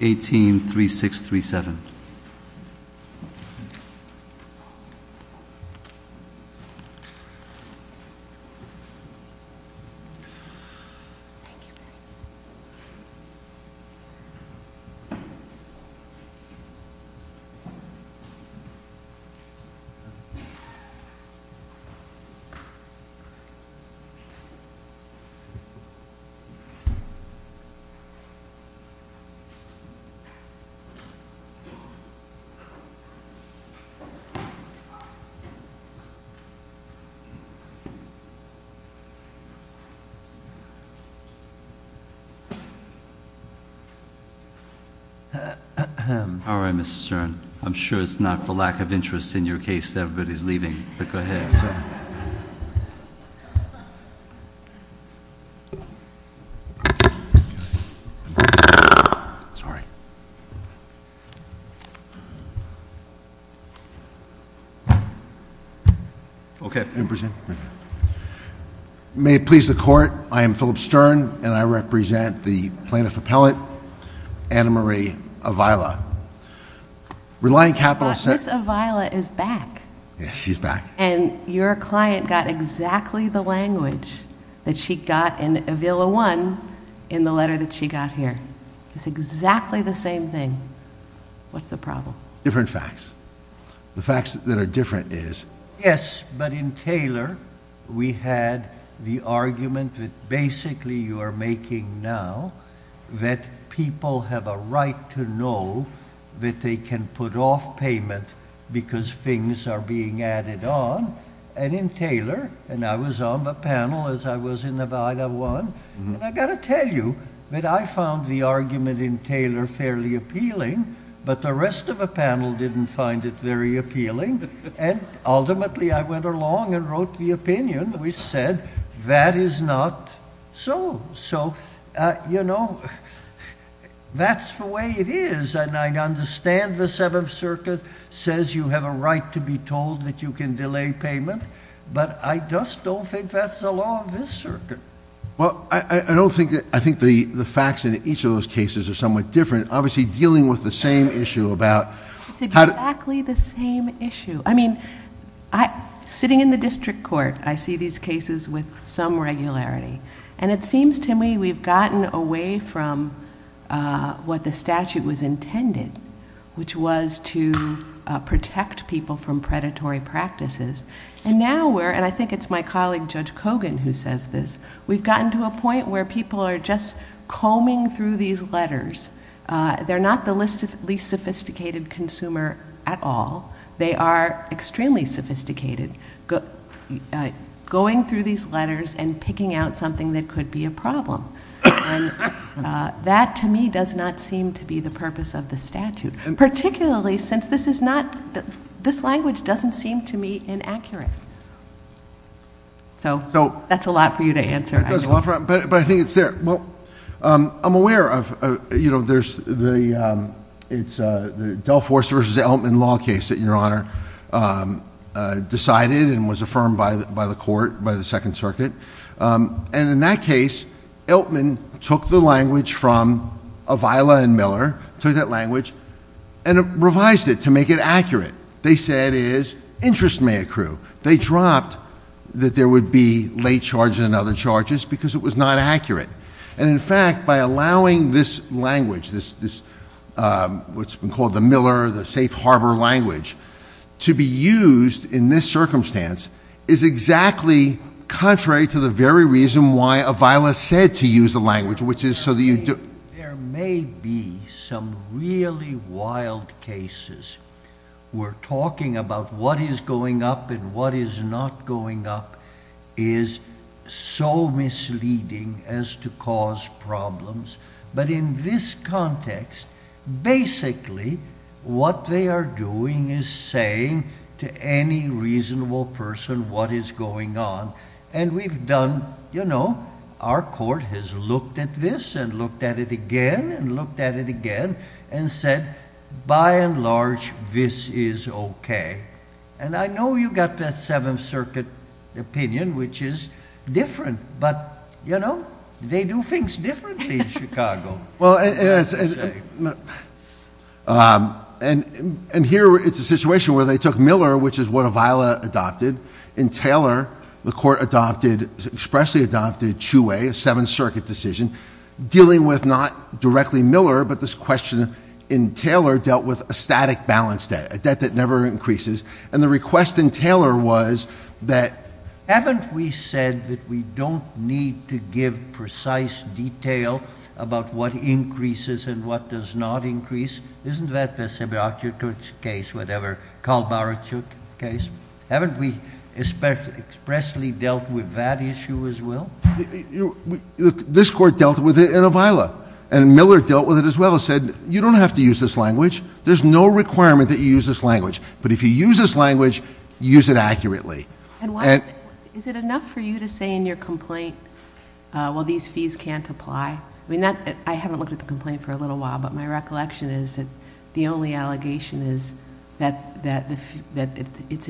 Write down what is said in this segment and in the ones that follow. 183637. All right, Mr. Stern, I'm sure it's not for lack of interest in your case that everybody's leaving, but go ahead, so... May it please the Court, I am Philip Stern, and I represent the Plaintiff Appellate, Anna Marie Avila. Reliant Capital...... Mr. Stern, the case of Vila is back. Yeah, she's back. And your client got exactly the language that she got in Avila 1 in the letter that she got here. It's exactly the same thing. What's the problem? Different facts. The fact that they're different is... Yes, but in Taylor, we had the argument that basically you are making now that people have a right to know that they can put off payment because things are being added on. And in Taylor, and I was on the panel as I was in Avila 1, and I've got to tell you that I found the argument in Taylor fairly appealing, but the rest of the panel didn't find it very appealing. And ultimately, I went along and wrote the opinion, which said that is not so. So, you know, that's the way it is, and I understand the Seventh Circuit says you have a right to be told that you can delay payment, but I just don't think that's the law of this circuit. Well, I don't think that... I think the facts in each of those cases are somewhat different. Obviously, dealing with the same issue about... It's exactly the same issue. I mean, sitting in the district court, I see these cases with some regularity, and it seems to me we've gotten away from what the statute was intended, which was to protect people from predatory practices, and now we're... and I think it's my colleague, Judge Kogan, who says this. We've gotten to a point where people are just combing through these letters. They're not the least sophisticated consumer at all. They are extremely sophisticated, going through these letters and picking out something that could be a problem, and that to me does not seem to be the purpose of the statute, particularly since this is not... this language doesn't seem to me inaccurate. So that's a lot for you to answer, I think. But I think it's there. Well, I'm aware of... you know, there's the... it's the Delforce v. Elman law case that Your Honor decided and was affirmed by the court, by the Second Circuit, and in that case, Elman took the language from Avila and Miller, took that language, and revised it to make it accurate. They said it is interest may accrue. They dropped that there would be late charges and other charges because it was not accurate. And in fact, by allowing this language, this... what's been called the Miller, the safe harbor language, to be used in this circumstance is exactly contrary to the very reason why Avila said to use the language, which is so that you... There may be some really wild cases. We're talking about what is going up and what is not going up is so misleading as to cause problems. But in this context, basically what they are doing is saying to any reasonable person what is going on, and we've done... you know, our court has looked at this and looked at it again and looked at it again and said, by and large, this is okay. And I know you got that Seventh Circuit opinion, which is different, but, you know, they do things differently in Chicago. Well, and here it's a situation where they took Miller, which is what Avila adopted, in Taylor, the court expressly adopted Chiu-Wei, a Seventh Circuit decision, dealing with not directly Miller, but this question in Taylor dealt with a static balance debt, a debt that never increases. And the request in Taylor was that... Haven't we said that we don't need to give precise detail about what increases and what does not increase? Isn't that the Sibyakuch case, whatever, Kalbaruch case? Haven't we expressly dealt with that issue as well? This court dealt with it in Avila, and Miller dealt with it as well and said, you don't have to use this language. There's no requirement that you use this language, but if you use this language, use it accurately. Is it enough for you to say in your complaint, well, these fees can't apply? I haven't looked at the complaint for a little while, but my recollection is that the only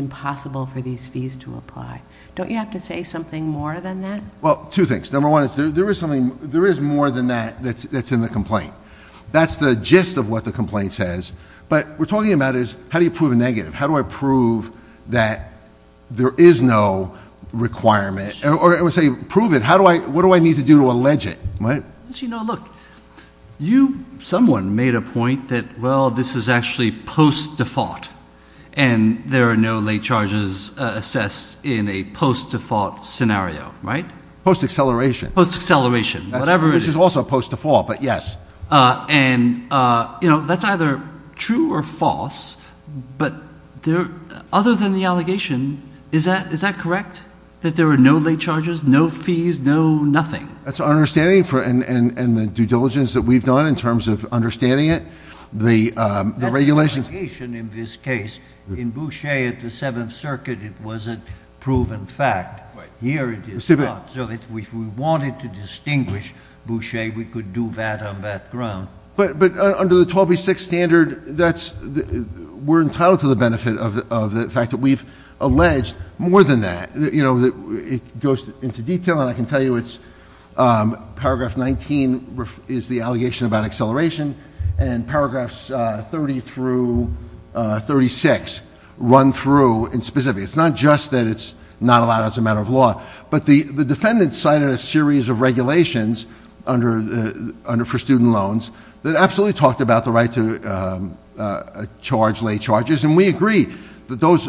possible for these fees to apply. Don't you have to say something more than that? Well, two things. Number one, there is something... there is more than that that's in the complaint. That's the gist of what the complaint says, but what we're talking about is how do you prove a negative? How do I prove that there is no requirement, or I would say, prove it. How do I... what do I need to do to allege it, right? You know, look, you, someone, made a point that, well, this is actually post-default and there are no late charges assessed in a post-default scenario, right? Post-acceleration. Post-acceleration. Whatever it is. Which is also post-default, but yes. And, you know, that's either true or false, but there... other than the allegation, is that correct, that there are no late charges, no fees, no nothing? That's our understanding for... and the due diligence that we've done in terms of understanding it, the regulations... The allegation in this case, in Boucher at the Seventh Circuit, it was a proven fact. Right. Here, it is not. So, if we wanted to distinguish Boucher, we could do that on that ground. But under the 12B6 standard, that's... we're entitled to the benefit of the fact that we've alleged more than that. You know, it goes into detail and I can tell you it's... paragraph 19 is the allegation about acceleration and paragraphs 30 through 36 run through in specific. It's not just that it's not allowed as a matter of law. But the defendant cited a series of regulations under... for student loans that absolutely talked about the right to charge late charges and we agree that those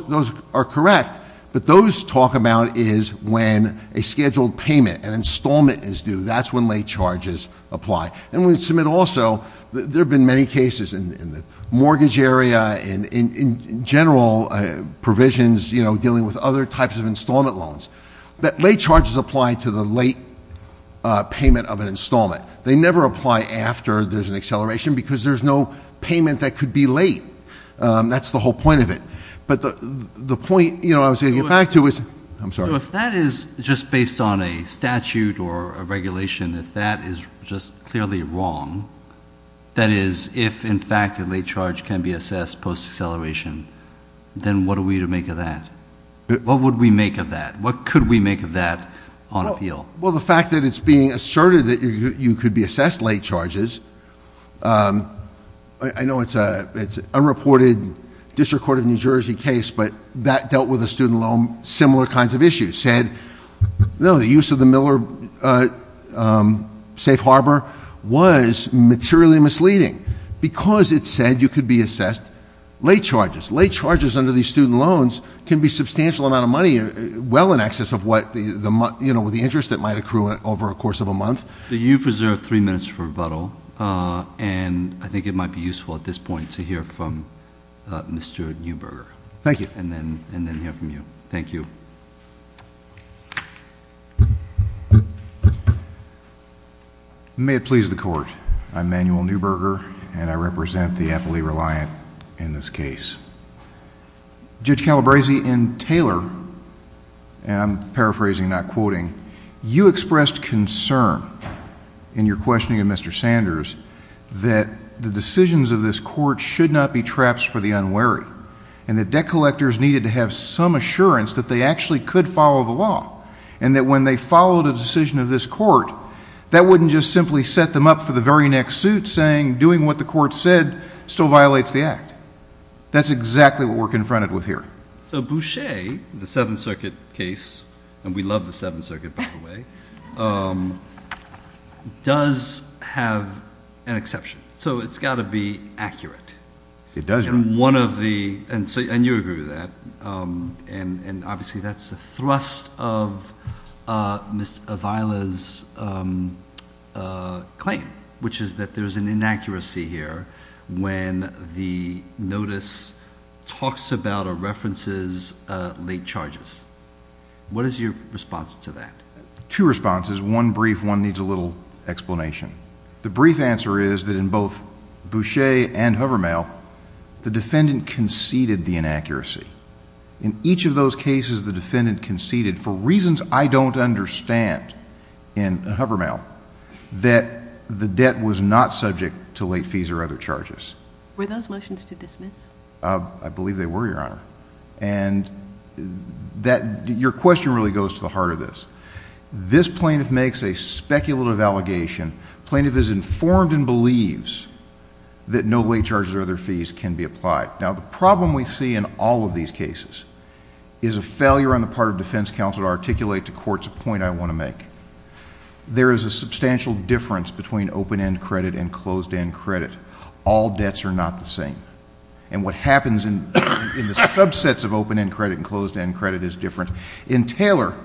are correct, but those talk about is when a scheduled payment, an installment is due. That's when late charges apply. And we submit also, there have been many cases in the mortgage area, in general provisions, you know, dealing with other types of installment loans, that late charges apply to the late payment of an installment. They never apply after there's an acceleration because there's no payment that could be late. That's the whole point of it. But the point, you know, I was going to get back to is... I'm sorry. So if that is just based on a statute or a regulation, if that is just clearly wrong, that is if in fact a late charge can be assessed post-acceleration, then what are we to make of that? What would we make of that? What could we make of that on appeal? Well, the fact that it's being asserted that you could be assessed late charges, I know it's a reported District Court of New Jersey case, but that dealt with the student loan similar kinds of issues, said, no, the use of the Miller Safe Harbor was materially misleading because it said you could be assessed late charges. Late charges under these student loans can be a substantial amount of money, well in excess of what, you know, the interest that might accrue over a course of a month. You've reserved three minutes for rebuttal, and I think it might be useful at this point to hear from Mr. Neuberger. Thank you. May it please the Court, I'm Manuel Neuberger, and I represent the appellee reliant in this case. Judge Calabresi and Taylor, and I'm paraphrasing, not quoting, you expressed concern in your questioning of Mr. Sanders that the decisions of this court should not be traps for the defenders needed to have some assurance that they actually could follow the law, and that when they followed a decision of this court, that wouldn't just simply set them up for the very next suit saying doing what the court said still violates the act. That's exactly what we're confronted with here. So Boucher, the Seventh Circuit case, and we love the Seventh Circuit by the way, does have an exception, so it's got to be accurate. It does. And one of the, and you agree with that, and obviously that's the thrust of Ms. Avila's claim, which is that there's an inaccuracy here when the notice talks about or references late charges. What is your response to that? Two responses. One brief, one needs a little explanation. The brief answer is that in both Boucher and Hovermael, the defendant conceded the inaccuracy. In each of those cases, the defendant conceded, for reasons I don't understand in Hovermael, that the debt was not subject to late fees or other charges. Were those motions to dismiss? I believe they were, Your Honor. And that, your question really goes to the heart of this. This plaintiff makes a speculative allegation. Plaintiff is informed and believes that no late charges or other fees can be applied. Now, the problem we see in all of these cases is a failure on the part of defense counsel to articulate to courts a point I want to make. There is a substantial difference between open-end credit and closed-end credit. All debts are not the same. And what happens in the subsets of open-end credit and closed-end credit is different. In Taylor,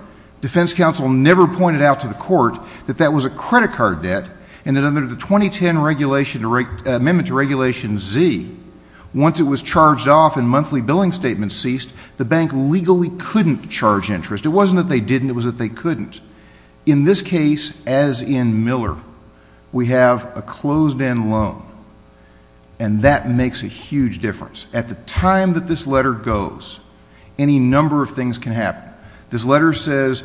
defense counsel never pointed out to the court that that was a credit card debt and that under the 2010 amendment to Regulation Z, once it was charged off and monthly billing statements ceased, the bank legally couldn't charge interest. It wasn't that they didn't, it was that they couldn't. In this case, as in Miller, we have a closed-end loan. And that makes a huge difference. At the time that this letter goes, any number of things can happen. This letter says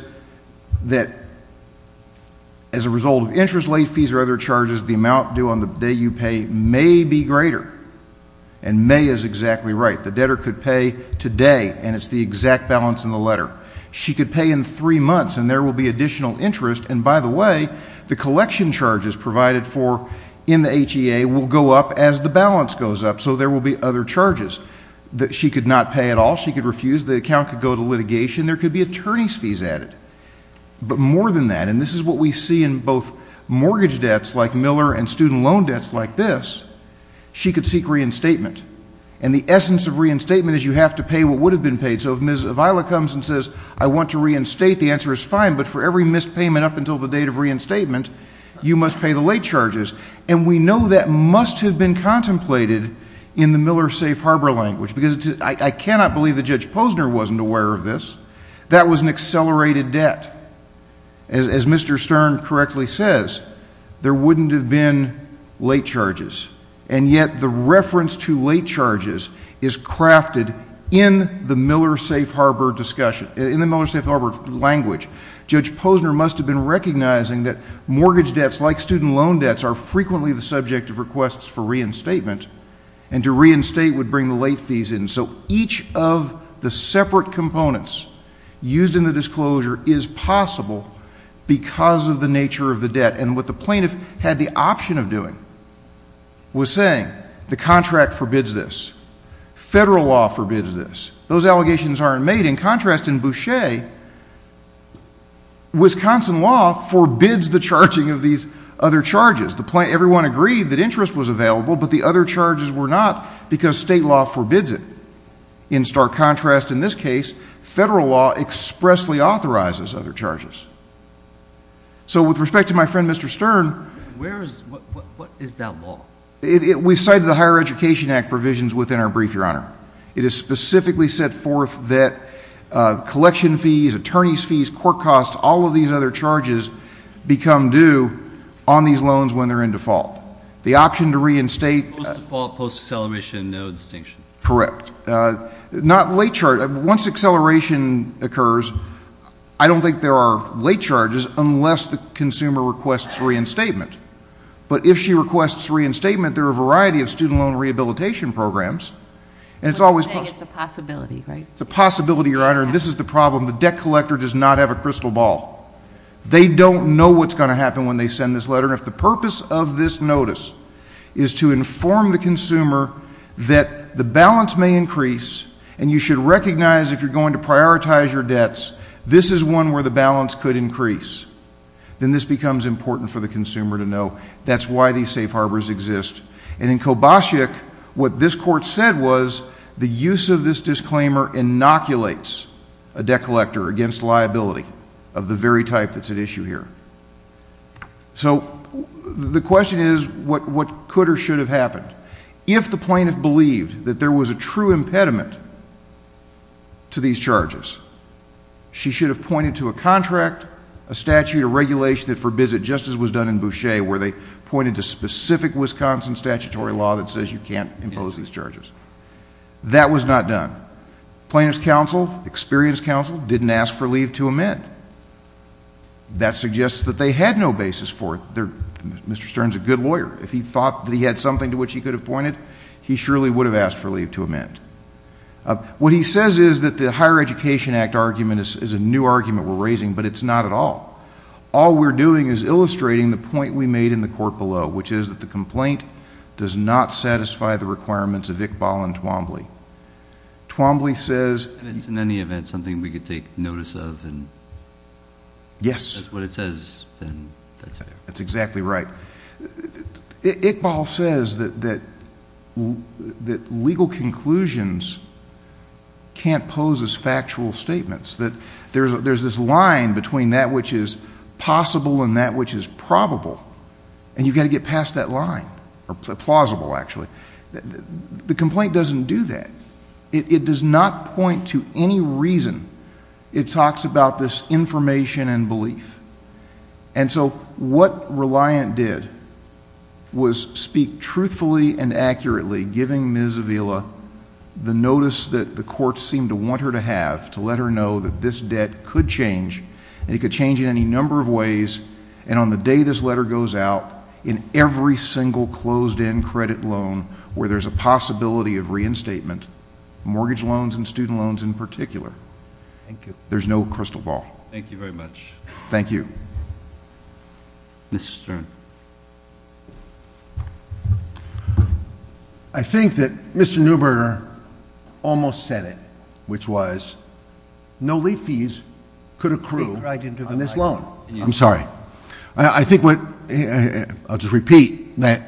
that as a result of interest late fees or other charges, the amount due on the day you pay may be greater. And may is exactly right. The debtor could pay today and it's the exact balance in the letter. She could pay in three months and there will be additional interest. And by the way, the collection charges provided for in the HEA will go up as the balance goes up. So there will be other charges that she could not pay at all. She could refuse. The account could go to litigation. There could be attorney's fees added. But more than that, and this is what we see in both mortgage debts like Miller and student loan debts like this, she could seek reinstatement. And the essence of reinstatement is you have to pay what would have been paid. So if Ms. Avila comes and says, I want to reinstate, the answer is fine. But for every missed payment up until the date of reinstatement, you must pay the late charges. And we know that must have been contemplated in the Miller Safe Harbor language. Because I cannot believe that Judge Posner wasn't aware of this. That was an accelerated debt. As Mr. Stern correctly says, there wouldn't have been late charges. And yet the reference to late charges is crafted in the Miller Safe Harbor discussion, in the Miller Safe Harbor language. Judge Posner must have been recognizing that mortgage debts like student loan debts are frequently the subject of requests for reinstatement. And to reinstate would bring the late fees in. So each of the separate components used in the disclosure is possible because of the nature of the debt. And what the plaintiff had the option of doing was saying the contract forbids this. Federal law forbids this. Those allegations aren't made. In contrast, in Boucher, Wisconsin law forbids the charging of these other charges. Everyone agreed that interest was available, but the other charges were not because state law forbids it. In stark contrast, in this case, federal law expressly authorizes other charges. So with respect to my friend, Mr. Stern. Where is, what is that law? It is specifically set forth that collection fees, attorney's fees, court costs, all of these other charges become due on these loans when they're in default. The option to reinstate. Post-default, post-acceleration, no distinction. Correct. Not late charges. Once acceleration occurs, I don't think there are late charges unless the consumer requests reinstatement. But if she requests reinstatement, there are a variety of student loan rehabilitation programs. And it's always. I would say it's a possibility, right? It's a possibility, Your Honor. And this is the problem. The debt collector does not have a crystal ball. They don't know what's going to happen when they send this letter. And if the purpose of this notice is to inform the consumer that the balance may increase, and you should recognize if you're going to prioritize your debts, this is one where the balance could increase. Then this becomes important for the consumer to know that's why these safe harbors exist. And in Kobasic, what this court said was the use of this disclaimer inoculates a debt collector against liability of the very type that's at issue here. So the question is, what could or should have happened? If the plaintiff believed that there was a true impediment to these charges, she should have pointed to a contract, a statute, a regulation that forbids it, just as was done in Boucher, where they pointed to specific Wisconsin statutory law that says you can't impose these charges. That was not done. Plaintiff's counsel, experienced counsel, didn't ask for leave to amend. That suggests that they had no basis for it. Mr. Stern's a good lawyer. If he thought that he had something to which he could have pointed, he surely would have asked for leave to amend. What he says is that the Higher Education Act argument is a new argument we're raising, but it's not at all. All we're doing is illustrating the point we made in the court below, which is that the complaint does not satisfy the requirements of Iqbal and Twombly. Twombly says- And it's in any event something we could take notice of and- Yes. If that's what it says, then that's fair. That's exactly right. Iqbal says that legal conclusions can't pose as factual statements, that there's this line between that which is possible and that which is probable. And you've got to get past that line, or plausible, actually. The complaint doesn't do that. It does not point to any reason. It talks about this information and belief. And so, what Reliant did was speak truthfully and accurately, giving Ms. Avila the notice that the court seemed to want her to have, to let her know that this debt could change, and it could change in any number of ways. And on the day this letter goes out, in every single closed-end credit loan where there's a possibility of reinstatement, mortgage loans and student loans in particular, there's no crystal ball. Thank you very much. Thank you. Mr. Stern. I think that Mr. Newberger almost said it, which was no late fees could accrue on this loan. I'm sorry. I think what, I'll just repeat, that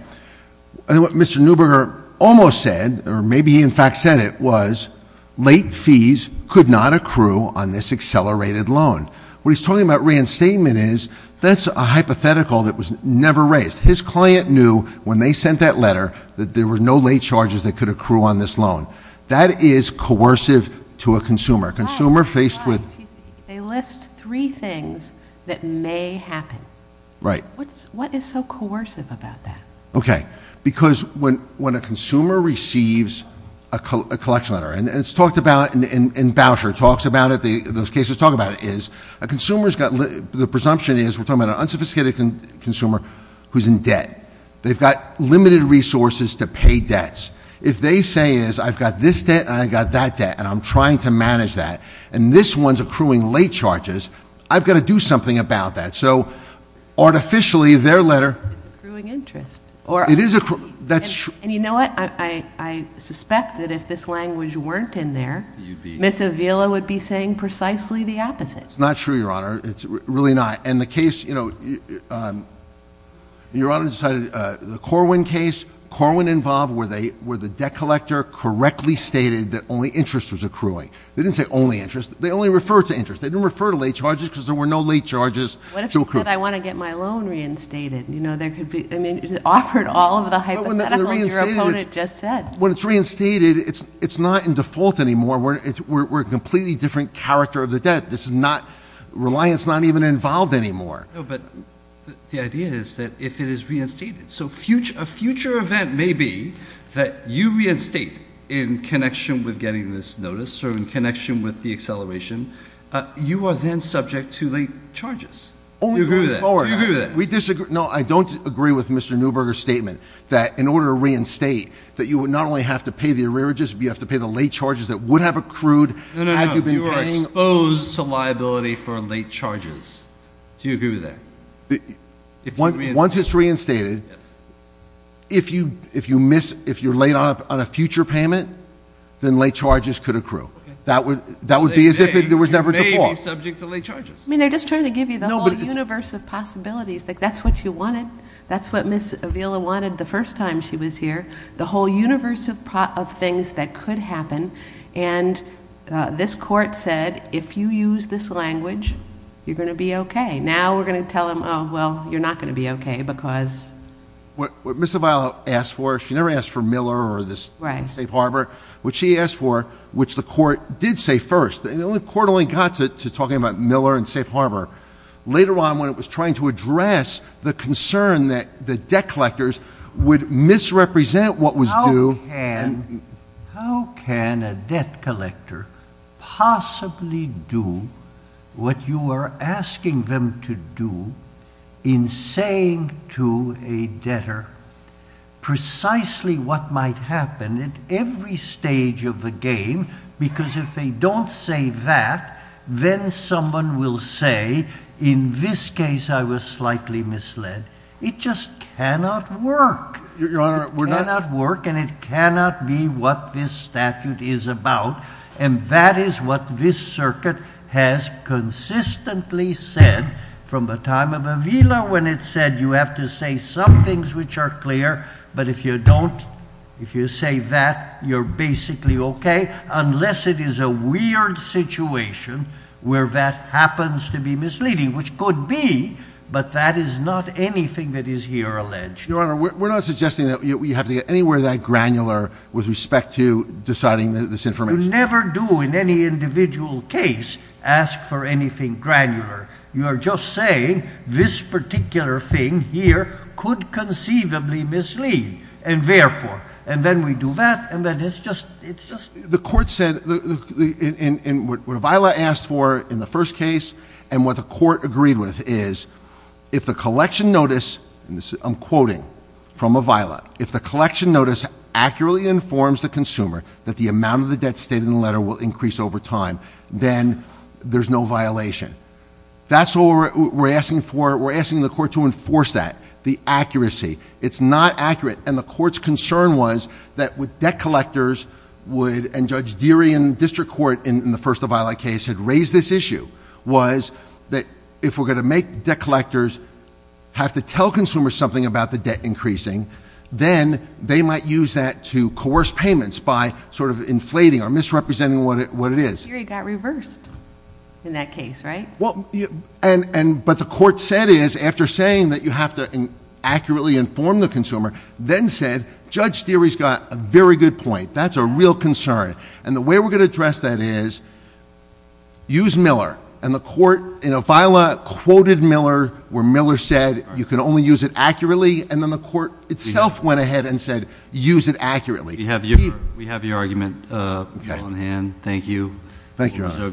what Mr. Newberger almost said, or maybe he in fact said it, was late fees could not accrue on this accelerated loan. What he's talking about reinstatement is, that's a hypothetical that was never raised. His client knew when they sent that letter that there were no late charges that could accrue on this loan. That is coercive to a consumer. Consumer faced with- They list three things that may happen. Right. What is so coercive about that? Okay. Because when a consumer receives a collection letter, and it's talked about in voucher, and it talks about it, those cases talk about it, the presumption is we're talking about an unsophisticated consumer who's in debt. They've got limited resources to pay debts. If they say is, I've got this debt and I've got that debt, and I'm trying to manage that, and this one's accruing late charges, I've got to do something about that. So, artificially, their letter- It's accruing interest. It is accruing, that's true. And you know what? I suspect that if this language weren't in there, Ms. Avila would be saying precisely the opposite. It's not true, Your Honor. It's really not. And the case, you know, Your Honor decided the Corwin case, Corwin involved where the debt collector correctly stated that only interest was accruing. They didn't say only interest. They only referred to interest. They didn't refer to late charges because there were no late charges to accrue. What if she said, I want to get my loan reinstated? You know, there could be- I mean, it offered all of the hypotheticals. When it's reinstated, it's not in default anymore. We're a completely different character of the debt. This is not, reliance is not even involved anymore. No, but the idea is that if it is reinstated. So, a future event may be that you reinstate in connection with getting this notice or in connection with the acceleration, you are then subject to late charges. Do you agree with that? We disagree. No, I don't agree with Mr. Newberger's statement that in order to reinstate, that you would not only have to pay the arrearages, but you have to pay the late charges that would have accrued had you been paying- No, no, no, you are exposed to liability for late charges. Do you agree with that? Once it's reinstated, if you miss, if you're late on a future payment, then late charges could accrue. That would be as if it was never default. It may be subject to late charges. I mean, they're just trying to give you the whole universe of possibilities, like that's what you wanted. That's what Ms. Avila wanted the first time she was here, the whole universe of things that could happen. And this court said, if you use this language, you're going to be okay. Now, we're going to tell them, well, you're not going to be okay, because- What Ms. Avila asked for, she never asked for Miller or this Safe Harbor. What she asked for, which the court did say first. And the court only got to talking about Miller and Safe Harbor later on when it was trying to address the concern that the debt collectors would misrepresent what was due. How can a debt collector possibly do what you are asking them to do in saying to a debtor precisely what might happen at every stage of the game? Because if they don't say that, then someone will say, in this case I was slightly misled. It just cannot work. It cannot work and it cannot be what this statute is about. And that is what this circuit has consistently said from the time of Avila when it said you have to say some things which are clear. But if you don't, if you say that, you're basically okay, unless it is a weird situation where that happens to be misleading. Which could be, but that is not anything that is here alleged. Your Honor, we're not suggesting that you have to get anywhere that granular with respect to deciding this information. You never do in any individual case ask for anything granular. You are just saying this particular thing here could conceivably mislead. And therefore, and then we do that, and then it's just- The court said, what Avila asked for in the first case, and what the court agreed with is, if the collection notice, and I'm quoting from Avila. If the collection notice accurately informs the consumer that the amount of the debt stated in the letter will increase over time, then there's no violation. That's what we're asking for, we're asking the court to enforce that, the accuracy. It's not accurate, and the court's concern was that with debt collectors would, and Judge Deary in the district court in the first Avila case had raised this issue, was that if we're going to make debt collectors have to tell consumers something about the debt increasing, then they might use that to coerce payments by sort of inflating or misrepresenting what it is. Deary got reversed in that case, right? But the court said is, after saying that you have to accurately inform the consumer, then said, Judge Deary's got a very good point, that's a real concern. And the way we're going to address that is, use Miller. And the court in Avila quoted Miller, where Miller said, you can only use it accurately. And then the court itself went ahead and said, use it accurately. We have your argument on hand, thank you. Thank you, Your Honor.